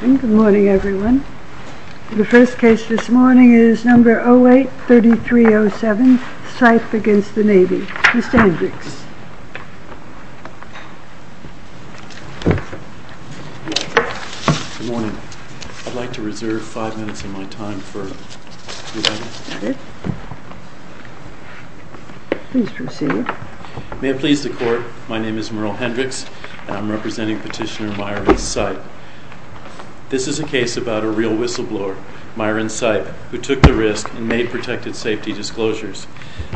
Good morning everyone. The first case this morning is number 08-3307, Sipe v. Navy. Mr. Hendricks. Good morning. I'd like to reserve five minutes of my time for rebuttal. Please proceed. May it please the Court, my name is Merle Hendricks and I'm representing Petitioner Myron Sipe. This is a case about a real whistleblower, Myron Sipe, who took the risk and made protected safety disclosures.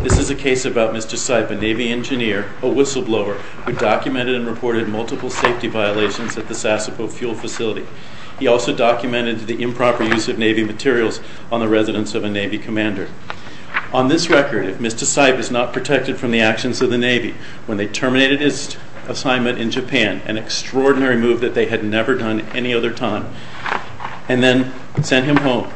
This is a case about Mr. Sipe, a Navy engineer, a whistleblower, who documented and reported multiple safety violations at the Sassapo fuel facility. He also documented the improper use of Navy materials on the residence of a Navy commander. On this record, if Mr. Sipe is not protected from the actions of the Navy when they terminated his assignment in Japan, an extraordinary move that they had never done at any other time, and then sent him home,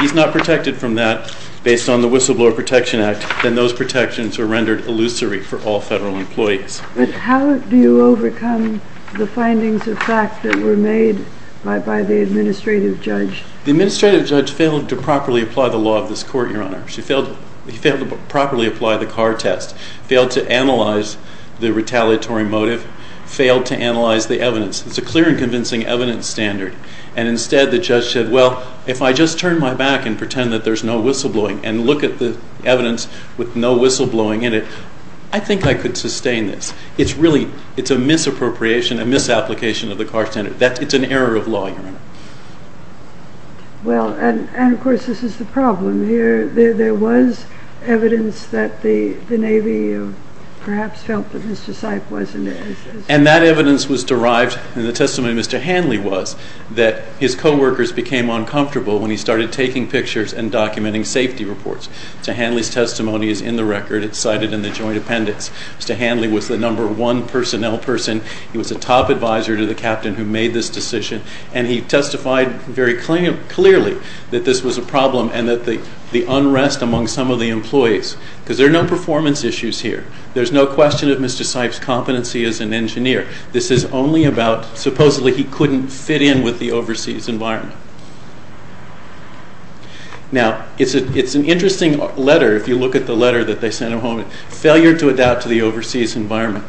he's not protected from that based on the Whistleblower Protection Act, then those protections are rendered illusory for all federal employees. But how do you overcome the findings of fact that were made by the administrative judge? The administrative judge failed to properly apply the law of this court, Your Honor. He failed to properly apply the car test, failed to analyze the retaliatory motive, failed to analyze the evidence. It's a clear and convincing evidence standard. And instead the judge said, well, if I just turn my back and pretend that there's no whistleblowing and look at the evidence with no whistleblowing in it, I think I could sustain this. It's a misappropriation, a misapplication of the car standard. It's an error of law, Your Honor. Well, and of course this is the problem. There was evidence that the Navy perhaps felt that Mr. Sipe wasn't. And that evidence was derived, and the testimony of Mr. Hanley was, that his co-workers became uncomfortable when he started taking pictures and documenting safety reports. Mr. Hanley's testimony is in the record. It's cited in the joint appendix. Mr. Hanley was the number one personnel person. He was a top advisor to the captain who made this decision. And he testified very clearly that this was a problem and that the unrest among some of the employees, because there are no performance issues here. There's no question of Mr. Sipe's competency as an engineer. This is only about supposedly he couldn't fit in with the overseas environment. Now, it's an interesting letter, if you look at the letter that they sent him home, failure to adapt to the overseas environment.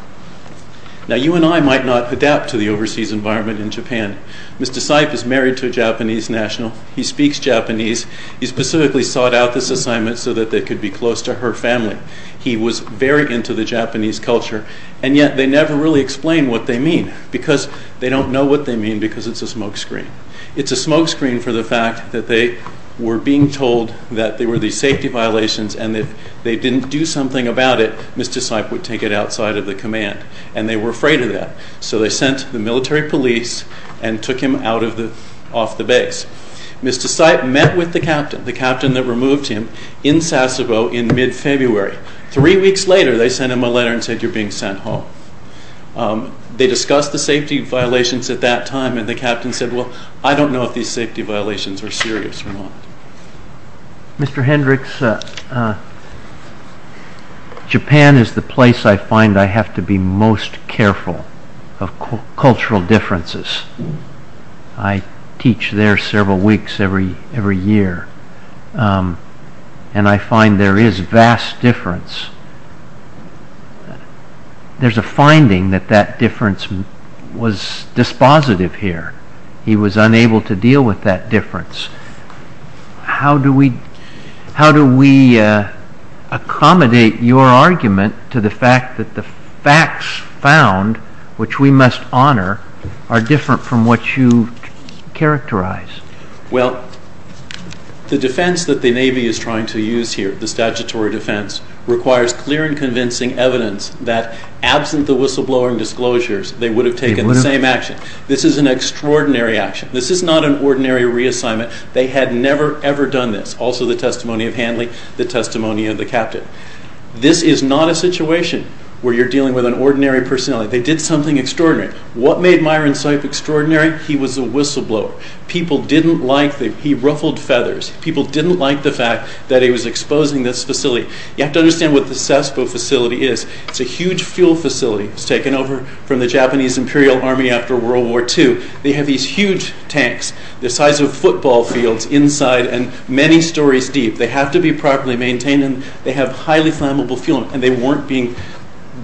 Now, you and I might not adapt to the overseas environment in Japan. Mr. Sipe is married to a Japanese national. He speaks Japanese. He specifically sought out this assignment so that they could be close to her family. He was very into the Japanese culture, and yet they never really explained what they mean, because they don't know what they mean because it's a smoke screen. It's a smoke screen for the fact that they were being told that there were these safety violations, and if they didn't do something about it, Mr. Sipe would take it outside of the command, and they were afraid of that. So they sent the military police and took him off the base. Mr. Sipe met with the captain, the captain that removed him, in Sasebo in mid-February. Three weeks later, they sent him a letter and said, you're being sent home. They discussed the safety violations at that time, and the captain said, well, I don't know if these safety violations are serious or not. Mr. Hendricks, Japan is the place I find I have to be most careful of cultural differences. I teach there several weeks every year, and I find there is vast difference. There's a finding that that difference was dispositive here. He was unable to deal with that difference. How do we accommodate your argument to the fact that the facts found, which we must honor, are different from what you characterize? Well, the defense that the Navy is trying to use here, the statutory defense, requires clear and convincing evidence that absent the whistleblower disclosures, they would have taken the same action. This is an extraordinary action. This is not an ordinary reassignment. They had never, ever done this. Also the testimony of Handley, the testimony of the captain. This is not a situation where you're dealing with an ordinary personnel. They did something extraordinary. What made Myron Sipe extraordinary? He was a whistleblower. People didn't like him. He ruffled feathers. People didn't like the fact that he was exposing this facility. You have to understand what the Sasebo facility is. It's a huge fuel facility. It was taken over from the Japanese Imperial Army after World War II. They have these huge tanks, the size of football fields inside, and many stories deep. They have to be properly maintained, and they have highly flammable fuel, and they weren't being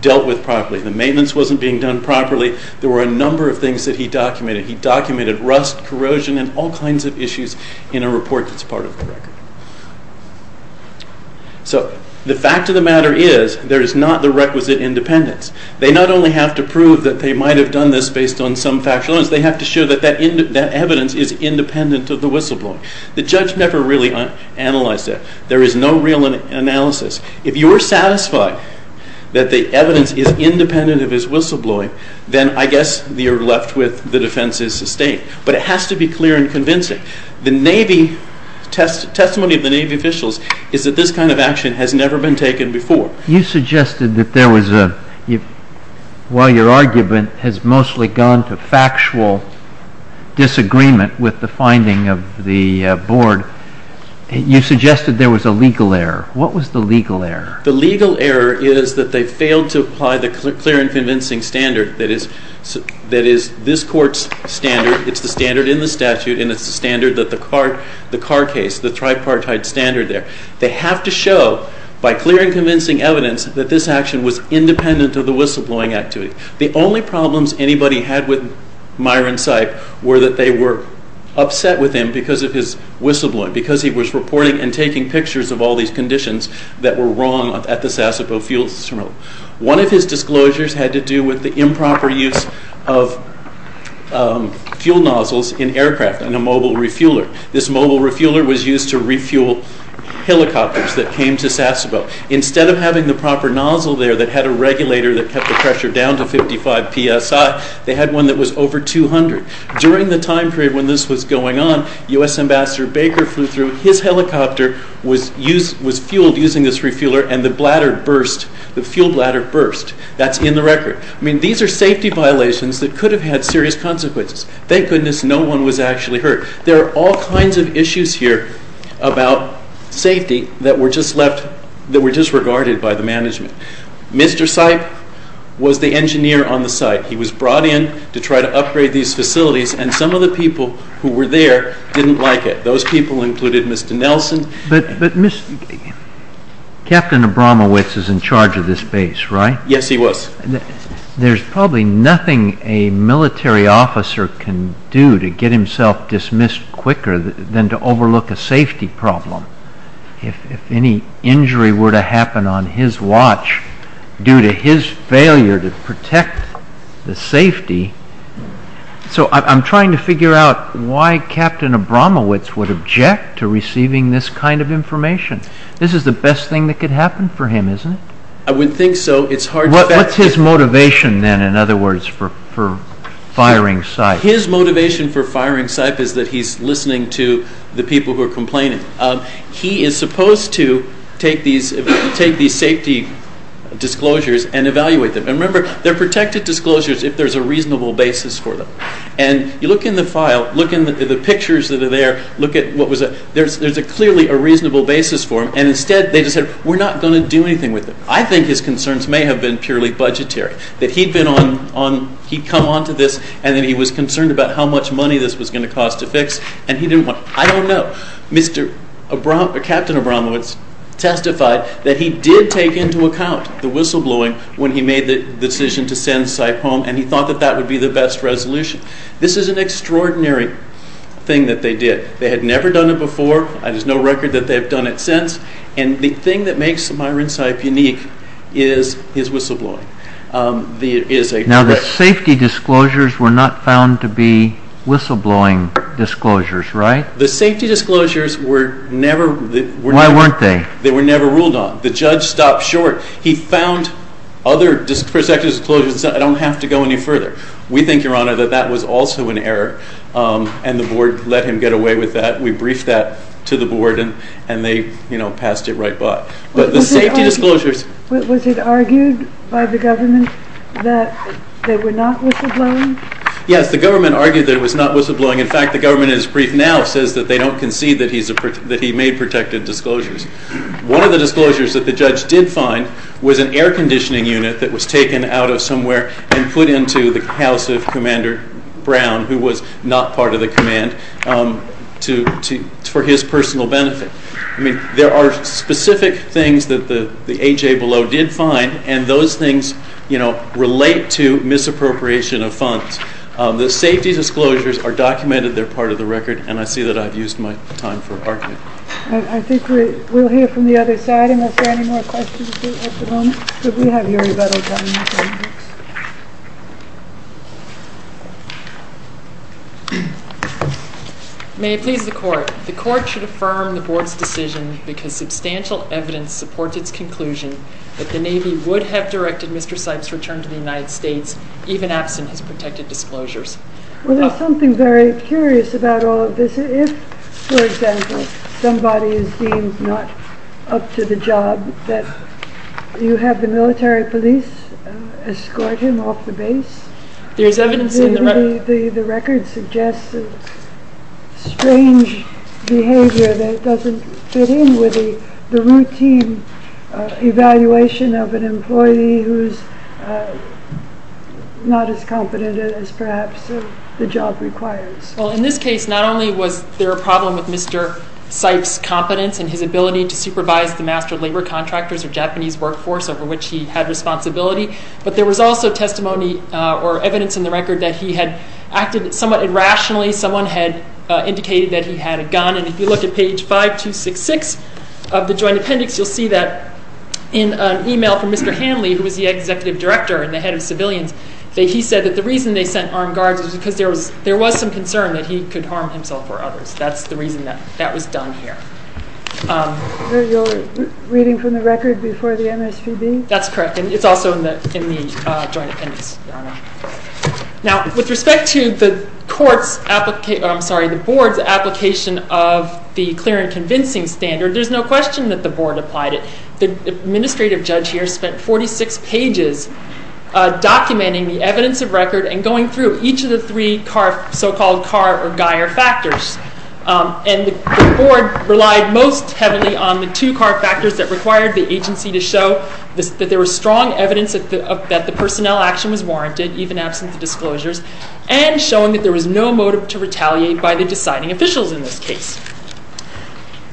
dealt with properly. The maintenance wasn't being done properly. There were a number of things that he documented. He documented rust, corrosion, and all kinds of issues in a report that's part of the record. So the fact of the matter is there is not the requisite independence. They not only have to prove that they might have done this based on some factual evidence, they have to show that that evidence is independent of the whistleblowing. The judge never really analyzed that. There is no real analysis. If you're satisfied that the evidence is independent of his whistleblowing, then I guess you're left with the defense is sustained. But it has to be clear and convincing. The testimony of the Navy officials is that this kind of action has never been taken before. You suggested that there was a, while your argument has mostly gone to factual disagreement with the finding of the board, you suggested there was a legal error. What was the legal error? The legal error is that they failed to apply the clear and convincing standard that is this court's standard. It's the standard in the statute, and it's the standard that the Carr case, the tripartite standard there. They have to show, by clear and convincing evidence, that this action was independent of the whistleblowing activity. The only problems anybody had with Myron Sipe were that they were upset with him because of his whistleblowing, because he was reporting and taking pictures of all these conditions that were wrong at the Sassapoe Fuels Terminal. One of his disclosures had to do with the improper use of fuel nozzles in aircraft in a mobile refueler. This mobile refueler was used to refuel helicopters that came to Sassapoe. Instead of having the proper nozzle there that had a regulator that kept the pressure down to 55 psi, they had one that was over 200. During the time period when this was going on, U.S. Ambassador Baker flew through. His helicopter was fueled using this refueler, and the fuel bladder burst. That's in the record. These are safety violations that could have had serious consequences. Thank goodness no one was actually hurt. There are all kinds of issues here about safety that were disregarded by the management. Mr. Sipe was the engineer on the site. He was brought in to try to upgrade these facilities, and some of the people who were there didn't like it. Those people included Mr. Nelson. But Captain Abramowitz is in charge of this base, right? Yes, he was. There's probably nothing a military officer can do to get himself dismissed quicker than to overlook a safety problem. If any injury were to happen on his watch due to his failure to protect the safety... I'm trying to figure out why Captain Abramowitz would object to receiving this kind of information. This is the best thing that could happen for him, isn't it? I would think so. What's his motivation then, in other words, for firing Sipe? His motivation for firing Sipe is that he's listening to the people who are complaining. He is supposed to take these safety disclosures and evaluate them. Remember, they're protected disclosures if there's a reasonable basis for them. You look in the file, look in the pictures that are there, there's clearly a reasonable basis for them, and instead they just said, we're not going to do anything with them. I think his concerns may have been purely budgetary, that he'd come on to this and then he was concerned about how much money this was going to cost to fix, and he didn't want it. I don't know. Captain Abramowitz testified that he did take into account the whistleblowing when he made the decision to send Sipe home, and he thought that that would be the best resolution. This is an extraordinary thing that they did. They had never done it before. There's no record that they've done it since, and the thing that makes Myron Sipe unique is his whistleblowing. Now, the safety disclosures were not found to be whistleblowing disclosures, right? The safety disclosures were never ruled on. Why weren't they? They were never ruled on. The judge stopped short. He found other protective disclosures and said, I don't have to go any further. We think, Your Honor, that that was also an error, and the board let him get away with that. We briefed that to the board, and they passed it right by. But the safety disclosures— Was it argued by the government that they were not whistleblowing? Yes, the government argued that it was not whistleblowing. In fact, the government, in its brief now, says that they don't concede that he made protective disclosures. One of the disclosures that the judge did find was an air conditioning unit that was taken out of somewhere and put into the house of Commander Brown, who was not part of the command, for his personal benefit. I mean, there are specific things that the A.J. Below did find, and those things relate to misappropriation of funds. The safety disclosures are documented. They're part of the record, and I see that I've used my time for argument. I think we'll hear from the other side. Unless there are any more questions at the moment, could we have your rebuttal time? May it please the Court. The Court should affirm the board's decision because substantial evidence supports its conclusion that the Navy would have directed Mr. Sipes' return to the United States even absent his protective disclosures. Well, there's something very curious about all of this. If, for example, somebody is deemed not up to the job, that you have the military police escort him off the base. There's evidence in the record. The record suggests strange behavior that doesn't fit in with the routine evaluation of an employee who's not as competent as perhaps the job requires. Well, in this case, not only was there a problem with Mr. Sipes' competence and his ability to supervise the master labor contractors or Japanese workforce over which he had responsibility, but there was also testimony or evidence in the record that he had acted somewhat irrationally. Someone had indicated that he had a gun, and if you look at page 5266 of the joint appendix, you'll see that in an email from Mr. Hanley, who was the executive director and the head of civilians, he said that the reason they sent armed guards was because there was some concern that he could harm himself or others. That's the reason that was done here. You're reading from the record before the MSPB? That's correct, and it's also in the joint appendix. Now, with respect to the board's application of the clear and convincing standard, there's no question that the board applied it. The administrative judge here spent 46 pages documenting the evidence of record and going through each of the three so-called Carr or Geier factors, and the board relied most heavily on the two Carr factors that required the agency to show that there was strong evidence that the personnel action was warranted, even absent the disclosures, and showing that there was no motive to retaliate by the deciding officials in this case.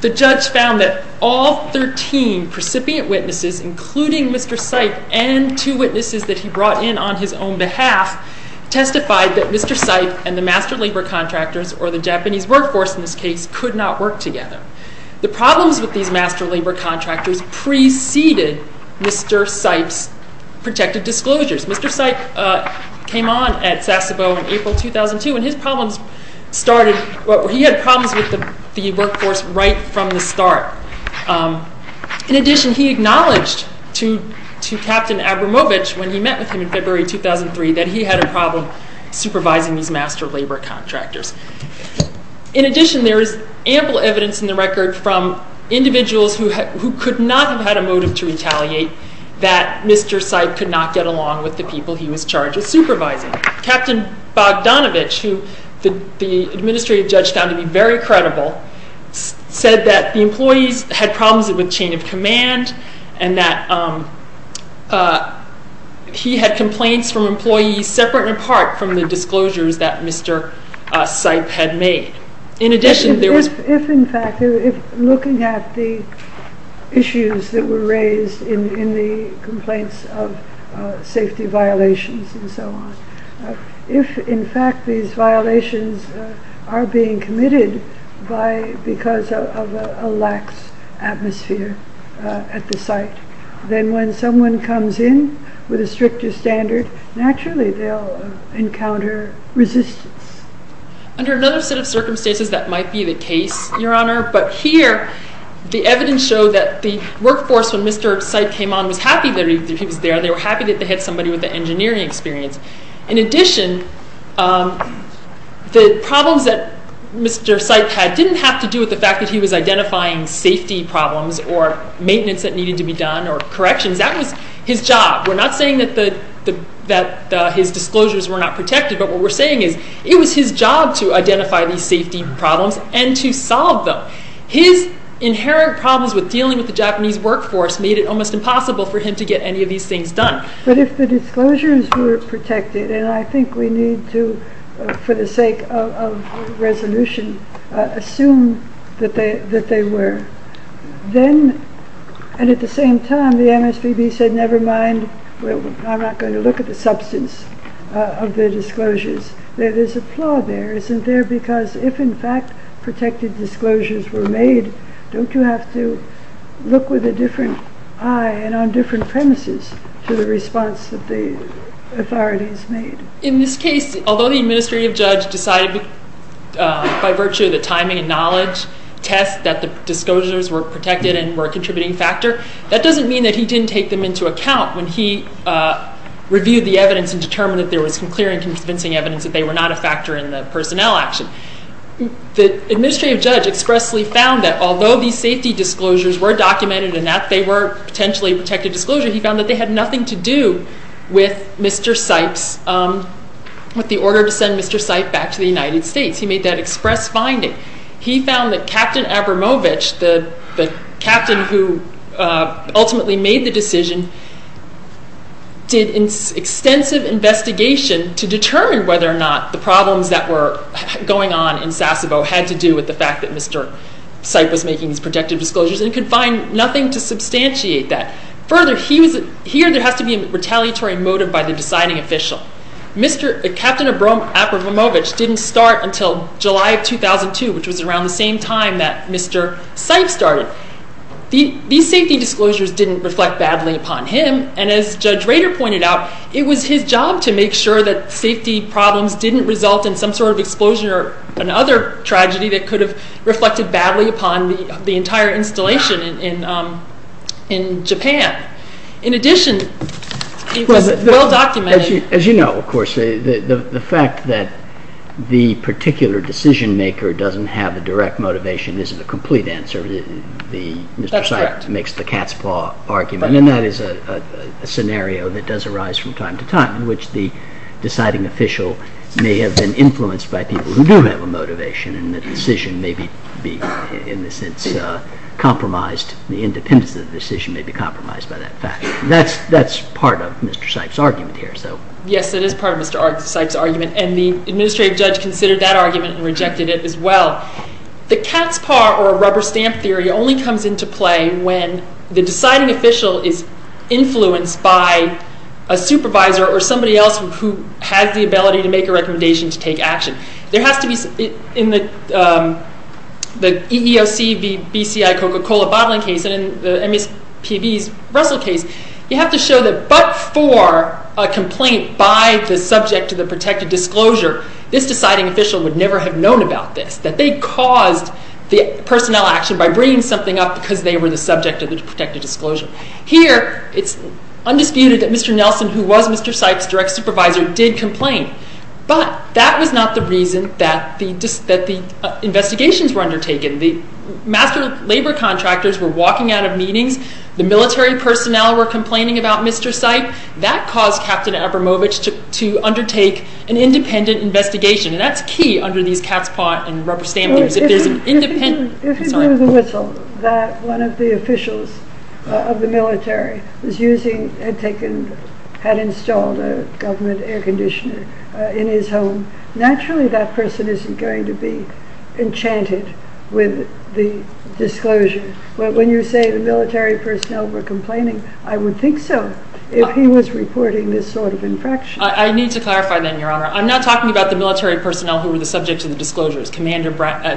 The judge found that all 13 precipient witnesses, including Mr. Sipes and two witnesses that he brought in on his own behalf, testified that Mr. Sipes and the master labor contractors, or the Japanese workforce in this case, could not work together. The problems with these master labor contractors preceded Mr. Sipes' protective disclosures. Mr. Sipes came on at Sasebo in April 2002, and he had problems with the workforce right from the start. In addition, he acknowledged to Captain Abramovich when he met with him in February 2003 that he had a problem supervising these master labor contractors. In addition, there is ample evidence in the record from individuals who could not have had a motive to retaliate that Mr. Sipes could not get along with the people he was charged with supervising. Captain Bogdanovich, who the administrative judge found to be very credible, said that the employees had problems with chain of command and that he had complaints from employees separate and apart from the disclosures that Mr. Sipes had made. If, in fact, looking at the issues that were raised in the complaints of safety violations and so on, if in fact these violations are being committed because of a lax atmosphere at the site, then when someone comes in with a stricter standard, naturally they'll encounter resistance. Under another set of circumstances that might be the case, Your Honor, but here the evidence showed that the workforce, when Mr. Sipes came on, was happy that he was there. They were happy that they had somebody with the engineering experience. In addition, the problems that Mr. Sipes had didn't have to do with the fact that he was identifying safety problems or maintenance that needed to be done or corrections. That was his job. We're not saying that his disclosures were not protected, but what we're saying is it was his job to identify these safety problems and to solve them. His inherent problems with dealing with the Japanese workforce made it almost impossible for him to get any of these things done. But if the disclosures were protected, and I think we need to, for the sake of resolution, assume that they were, then, and at the same time, the MSPB said, never mind, I'm not going to look at the substance of the disclosures. There's a flaw there, isn't there? Because if in fact protected disclosures were made, don't you have to look with a different eye and on different premises to the response that the authorities made? In this case, although the administrative judge decided by virtue of the timing and knowledge test that the disclosures were protected and were a contributing factor, that doesn't mean that he didn't take them into account when he reviewed the evidence and determined that there was clear and convincing evidence that they were not a factor in the personnel action. The administrative judge expressly found that although these safety disclosures were documented and that they were potentially protected disclosures, he found that they had nothing to do with Mr. Seip's, with the order to send Mr. Seip back to the United States. He made that express finding. He found that Captain Abramovich, the captain who ultimately made the decision, did extensive investigation to determine whether or not the problems that were going on in Sasebo had to do with the fact that Mr. Seip was making these protected disclosures and could find nothing to substantiate that. Further, here there has to be a retaliatory motive by the deciding official. Captain Abramovich didn't start until July of 2002, which was around the same time that Mr. Seip started. These safety disclosures didn't reflect badly upon him, and as Judge Rader pointed out, it was his job to make sure that safety problems didn't result in some sort of explosion or another tragedy that could have reflected badly upon the entire installation in Japan. In addition, it was well documented... As you know, of course, the fact that the particular decision-maker doesn't have a direct motivation isn't a complete answer. That's correct. Mr. Seip makes the cat's paw argument, and that is a scenario that does arise from time to time in which the deciding official may have been influenced by people who do have a motivation, and the decision may be, in a sense, compromised. The independence of the decision may be compromised by that fact. That's part of Mr. Seip's argument here. Yes, it is part of Mr. Seip's argument, and the administrative judge considered that argument and rejected it as well. The cat's paw or rubber stamp theory only comes into play when the deciding official is influenced by a supervisor or somebody else who has the ability to make a recommendation to take action. There has to be... In the EEOC v. BCI Coca-Cola bottling case and in the MSPB's Russell case, you have to show that but for a complaint by the subject of the protected disclosure, this deciding official would never have known about this, that they caused the personnel action by bringing something up because they were the subject of the protected disclosure. Here, it's undisputed that Mr. Nelson, who was Mr. Seip's direct supervisor, did complain, but that was not the reason that the investigations were undertaken. The master labor contractors were walking out of meetings. The military personnel were complaining about Mr. Seip. That caused Captain Abramovich to undertake an independent investigation, and that's key under these cat's paw and rubber stamp theories. If it were the whistle that one of the officials of the military had installed a government air conditioner in his home, naturally that person isn't going to be enchanted with the disclosure. When you say the military personnel were complaining, I would think so, if he was reporting this sort of infraction. I need to clarify then, Your Honor. I'm not talking about the military personnel who were the subject of the disclosures, and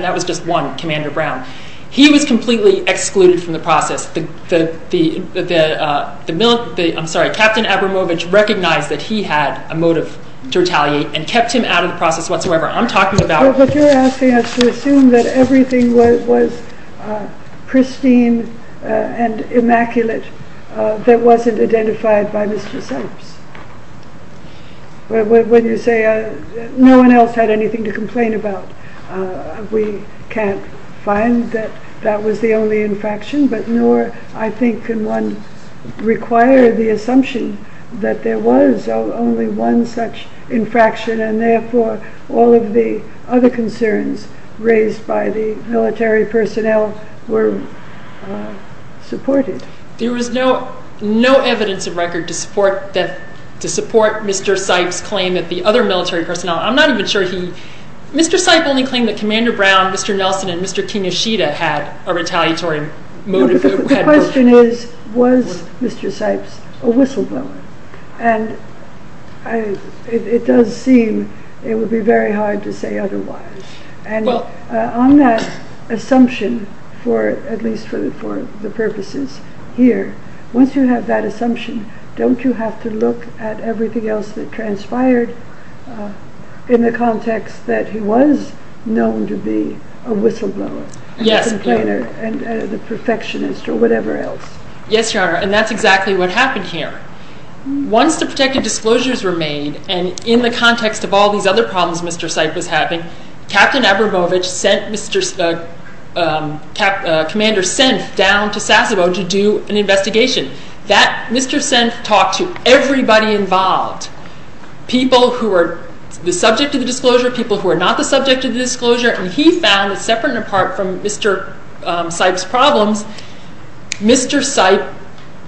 that was just one, Commander Brown. He was completely excluded from the process. I'm sorry, Captain Abramovich recognized that he had a motive to retaliate and kept him out of the process whatsoever. I'm talking about... But you're asking us to assume that everything was pristine and immaculate that wasn't identified by Mr. Seip. When you say no one else had anything to complain about, we can't find that that was the only infraction, but nor, I think, can one require the assumption that there was only one such infraction, and therefore all of the other concerns raised by the military personnel were supported. There was no evidence of record to support Mr. Seip's claim that the other military personnel... I'm not even sure he... Mr. Seip only claimed that Commander Brown, Mr. Nelson, and Mr. Kinoshita had a retaliatory motive. The question is, was Mr. Seip a whistleblower? And it does seem it would be very hard to say otherwise. And on that assumption, at least for the purposes here, once you have that assumption, don't you have to look at everything else that transpired in the context that he was known to be a whistleblower? Yes. A complainer, a perfectionist, or whatever else. Yes, Your Honor, and that's exactly what happened here. Once the protected disclosures were made, and in the context of all these other problems Mr. Seip was having, Captain Abramovich sent Commander Senf down to Sasebo to do an investigation. Mr. Senf talked to everybody involved, people who were the subject of the disclosure, people who were not the subject of the disclosure, and he found that separate and apart from Mr. Seip's problems, Mr. Seip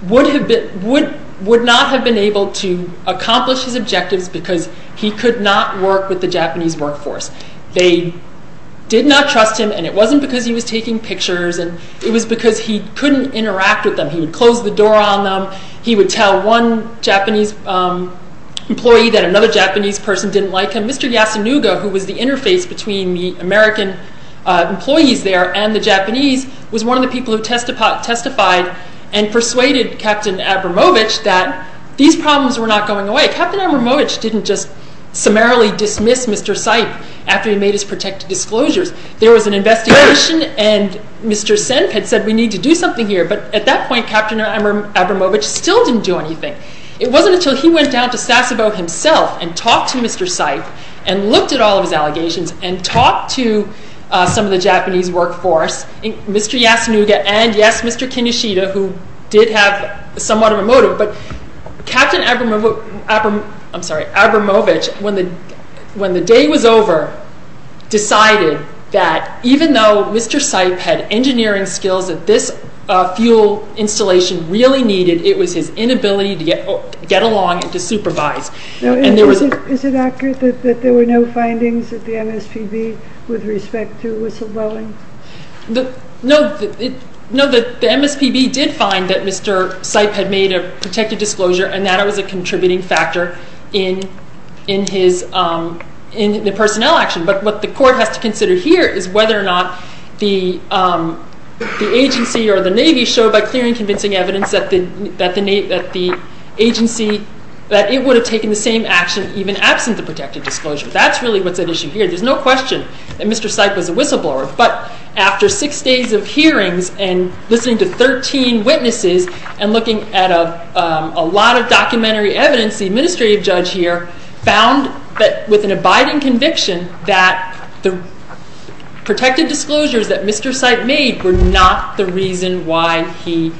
would not have been able to accomplish his objectives because he could not work with the Japanese workforce. They did not trust him, and it wasn't because he was taking pictures. It was because he couldn't interact with them. He would close the door on them. He would tell one Japanese employee that another Japanese person didn't like him. Mr. Yasunaga, who was the interface between the American employees there and the Japanese, was one of the people who testified and persuaded Captain Abramovich that these problems were not going away. Captain Abramovich didn't just summarily dismiss Mr. Seip after he made his protected disclosures. There was an investigation, and Mr. Senf had said we need to do something here, but at that point Captain Abramovich still didn't do anything. It wasn't until he went down to Sasebo himself and talked to Mr. Seip and looked at all of his allegations and talked to some of the Japanese workforce, Mr. Yasunaga and, yes, Mr. Kinoshita, who did have somewhat of a motive, but Captain Abramovich, when the day was over, decided that even though Mr. Seip had engineering skills that this fuel installation really needed, it was his inability to get along and to supervise. Is it accurate that there were no findings at the MSPB with respect to whistleblowing? No, the MSPB did find that Mr. Seip had made a protected disclosure and that it was a contributing factor in the personnel action, but what the court has to consider here is whether or not the agency or the Navy showed by clear and convincing evidence that the agency, that it would have taken the same action even absent the protected disclosure. That's really what's at issue here. There's no question that Mr. Seip was a whistleblower, but after six days of hearings and listening to 13 witnesses and looking at a lot of documentary evidence, the administrative judge here found that with an abiding conviction that the protected disclosures that Mr. Seip made were not the reason why he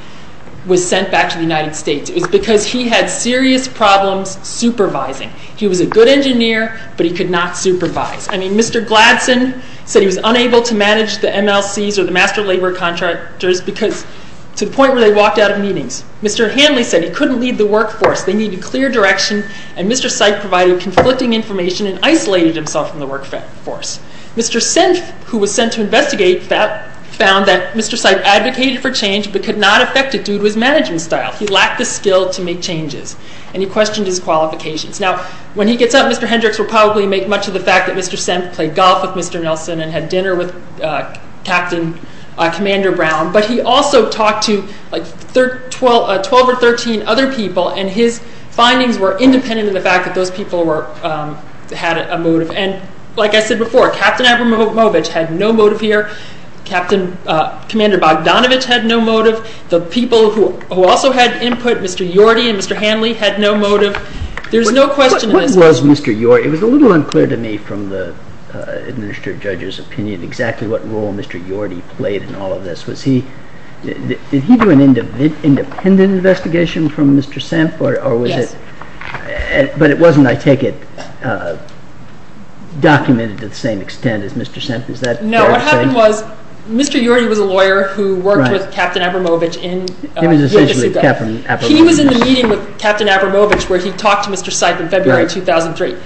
was sent back to the United States. It was because he had serious problems supervising. He was a good engineer, but he could not supervise. I mean, Mr. Gladson said he was unable to manage the MLCs or the Master Labor Contractors because to the point where they walked out of meetings. Mr. Hanley said he couldn't lead the workforce. They needed clear direction, and Mr. Seip provided conflicting information and isolated himself from the workforce. Mr. Senf, who was sent to investigate, found that Mr. Seip advocated for change but could not affect it due to his management style. He lacked the skill to make changes, and he questioned his qualifications. Now, when he gets up, Mr. Hendricks will probably make much of the fact that Mr. Senf played golf with Mr. Nelson and had dinner with Captain Commander Brown, but he also talked to 12 or 13 other people, and his findings were independent of the fact that those people had a motive. And like I said before, Captain Abramovich had no motive here. Captain Commander Bogdanovich had no motive. The people who also had input, Mr. Yorty and Mr. Hanley, had no motive. There's no question of this. What was Mr. Yorty? It was a little unclear to me from the administrative judge's opinion exactly what role Mr. Yorty played in all of this. Did he do an independent investigation from Mr. Senf, or was it... Yes. But it wasn't, I take it, documented to the same extent as Mr. Senf. Is that fair to say? No, what happened was Mr. Yorty was a lawyer who worked with Captain Abramovich in... He was essentially Captain Abramovich. He was in the meeting with Captain Abramovich where he talked to Mr. Seif in February 2003.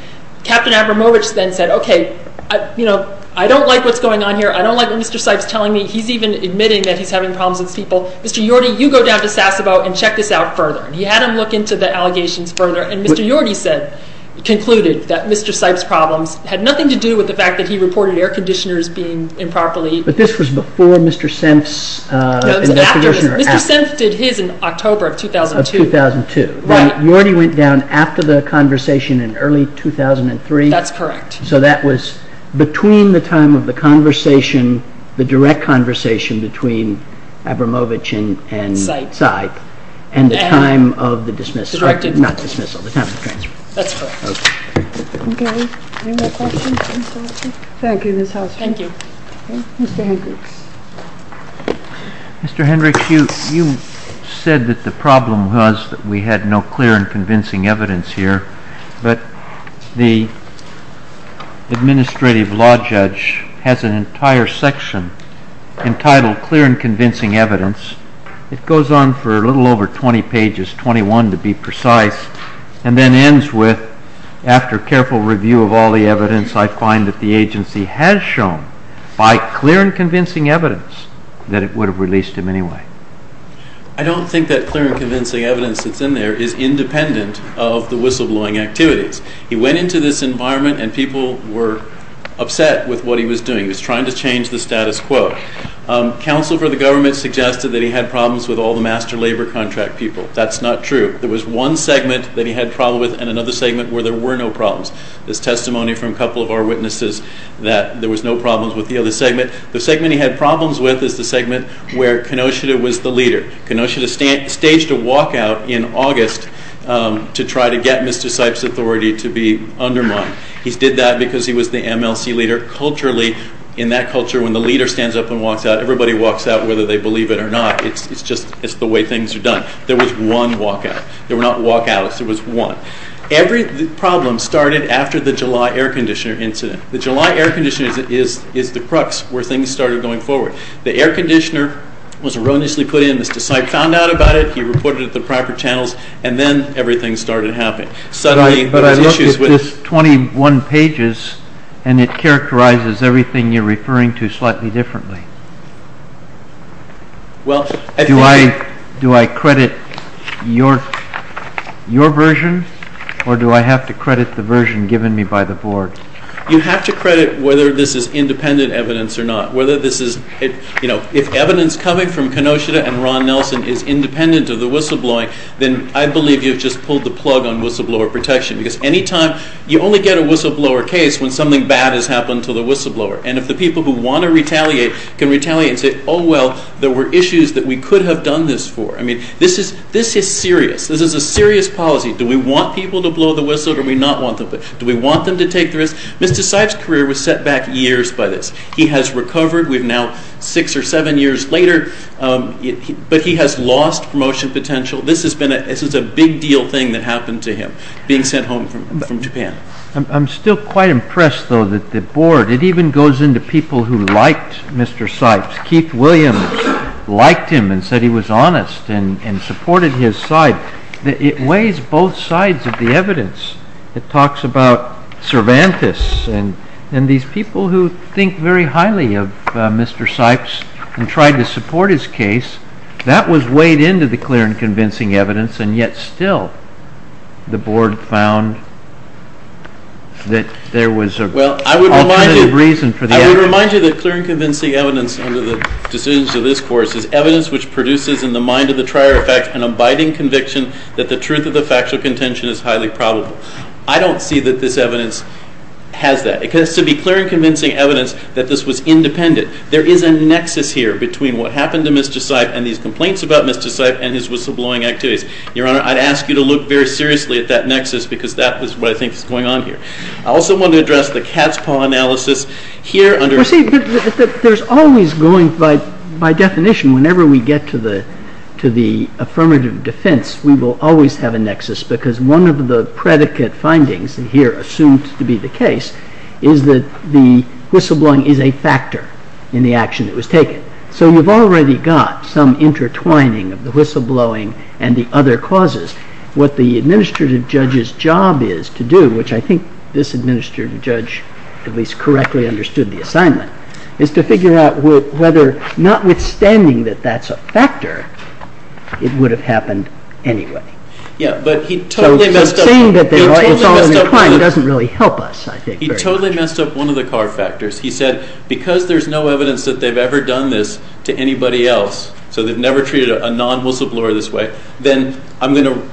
Captain Abramovich then said, OK, I don't like what's going on here. I don't like what Mr. Seif's telling me. He's even admitting that he's having problems with people. Mr. Yorty, you go down to Sasebo and check this out further. He had him look into the allegations further, and Mr. Yorty said, concluded that Mr. Seif's problems had nothing to do with the fact that he reported air conditioners being improperly... But this was before Mr. Senf's... No, it was after. Mr. Senf did his in October of 2002. Of 2002. Right. Yorty went down after the conversation in early 2003. That's correct. So that was between the time of the conversation, the direct conversation between Abramovich and Seif, and the time of the dismissal. Not dismissal, the time of the transfer. That's correct. Okay. Any more questions? Thank you. Thank you. Mr. Hendricks. Mr. Hendricks, you said that the problem was that we had no clear and convincing evidence here, but the administrative law judge has an entire section entitled Clear and Convincing Evidence. It goes on for a little over 20 pages, 21 to be precise, and then ends with, after careful review of all the evidence, I find that the agency has shown by clear and convincing evidence that it would have released him anyway. I don't think that clear and convincing evidence that's in there is independent of the whistleblowing activities. He went into this environment and people were upset with what he was doing. He was trying to change the status quo. Counsel for the government suggested that he had problems with all the master labor contract people. That's not true. There was one segment that he had problems with and another segment where there were no problems. There's testimony from a couple of our witnesses that there was no problems with the other segment. The segment he had problems with is the segment where Kenosha was the leader. Kenosha staged a walkout in August to try to get Mr. Sipes' authority to be undermined. He did that because he was the MLC leader. Culturally, in that culture, when the leader stands up and walks out, everybody walks out whether they believe it or not. It's just the way things are done. There was one walkout. There were not walkouts. There was one. Every problem started after the July air conditioner incident. The July air conditioner is the crux where things started going forward. The air conditioner was erroneously put in. Mr. Sipes found out about it. He reported it to the proper channels and then everything started happening. But I look at this 21 pages and it characterizes everything you're referring to slightly differently. Do I credit your version or do I have to credit the version given to me by the board? You have to credit whether this is independent evidence or not. If evidence coming from Kenosha and Ron Nelson is independent of the whistleblowing, then I believe you've just pulled the plug on whistleblower protection. Anytime you only get a whistleblower case when something bad has happened to the whistleblower. If the people who want to retaliate can retaliate and say, oh well, there were issues that we could have done this for. This is serious. This is a serious policy. Do we want people to blow the whistle or do we not want them to? Do we want them to take the risk? Mr. Sipes' career was set back years by this. He has recovered. We're now six or seven years later. But he has lost promotion potential. being sent home from Japan. I'm still quite impressed though that the board, and it even goes into people who liked Mr. Sipes. Keith Williams liked him and said he was honest and supported his side. It weighs both sides of the evidence. It talks about Cervantes and these people who think very highly of Mr. Sipes and tried to support his case. That was weighed into the clear and convincing evidence and yet still the board found that there was an alternative reason for the effort. Well, I would remind you that clear and convincing evidence under the decisions of this course is evidence which produces in the mind of the trier effect an abiding conviction that the truth of the factual contention is highly probable. I don't see that this evidence has that. It has to be clear and convincing evidence that this was independent. There is a nexus here between what happened to Mr. Sipes and these complaints about Mr. Sipes and his whistleblowing activities. Your Honor, I'd ask you to look very seriously at that nexus because that is what I think is going on here. I also want to address the cat's paw analysis. You see, there's always going by definition whenever we get to the affirmative defense we will always have a nexus because one of the predicate findings here assumed to be the case is that the whistleblowing is a factor in the action that was taken. So you've already got some intertwining of the whistleblowing and the other causes. What the administrative judge's job is to do which I think this administrative judge at least correctly understood the assignment is to figure out whether notwithstanding that that's a factor it would have happened anyway. Yeah, but he totally messed up... So saying that they were all intertwined doesn't really help us, I think. He totally messed up one of the car factors. He said because there's no evidence that they've ever done this to anybody else so they've never treated a non-whistleblower this way then I'm going to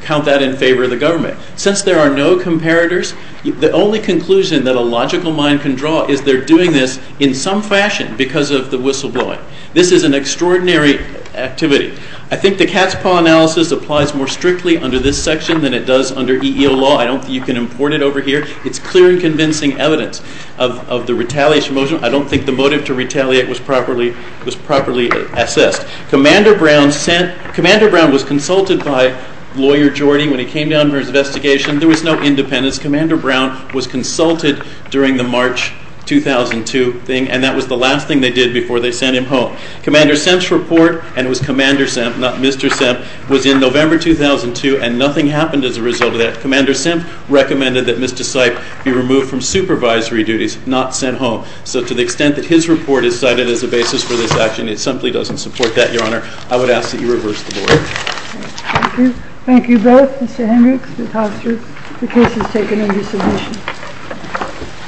count that in favor of the government. Since there are no comparators the only conclusion that a logical mind can draw is they're doing this in some fashion because of the whistleblowing. This is an extraordinary activity. I think the cat's paw analysis applies more strictly under this section than it does under EEO law. You can import it over here. It's clear and convincing evidence of the retaliation motion. I don't think the motive to retaliate was properly assessed. Commander Brown was consulted by lawyer Jordy when he came down for his investigation. There was no independence. Commander Brown was consulted during the March 2002 thing and that was the last thing they did before they sent him home. Commander Semp's report and it was Commander Semp not Mr. Semp was in November 2002 and nothing happened as a result of that. Commander Semp recommended that Mr. Seip be removed from supervisory duties not sent home. So to the extent that his report is cited as a basis for this action it simply doesn't support that, Your Honor. I would ask that you reverse the board. Thank you. Thank you both. Mr. Hendricks, Ms. Hofstra. The case is taken under submission.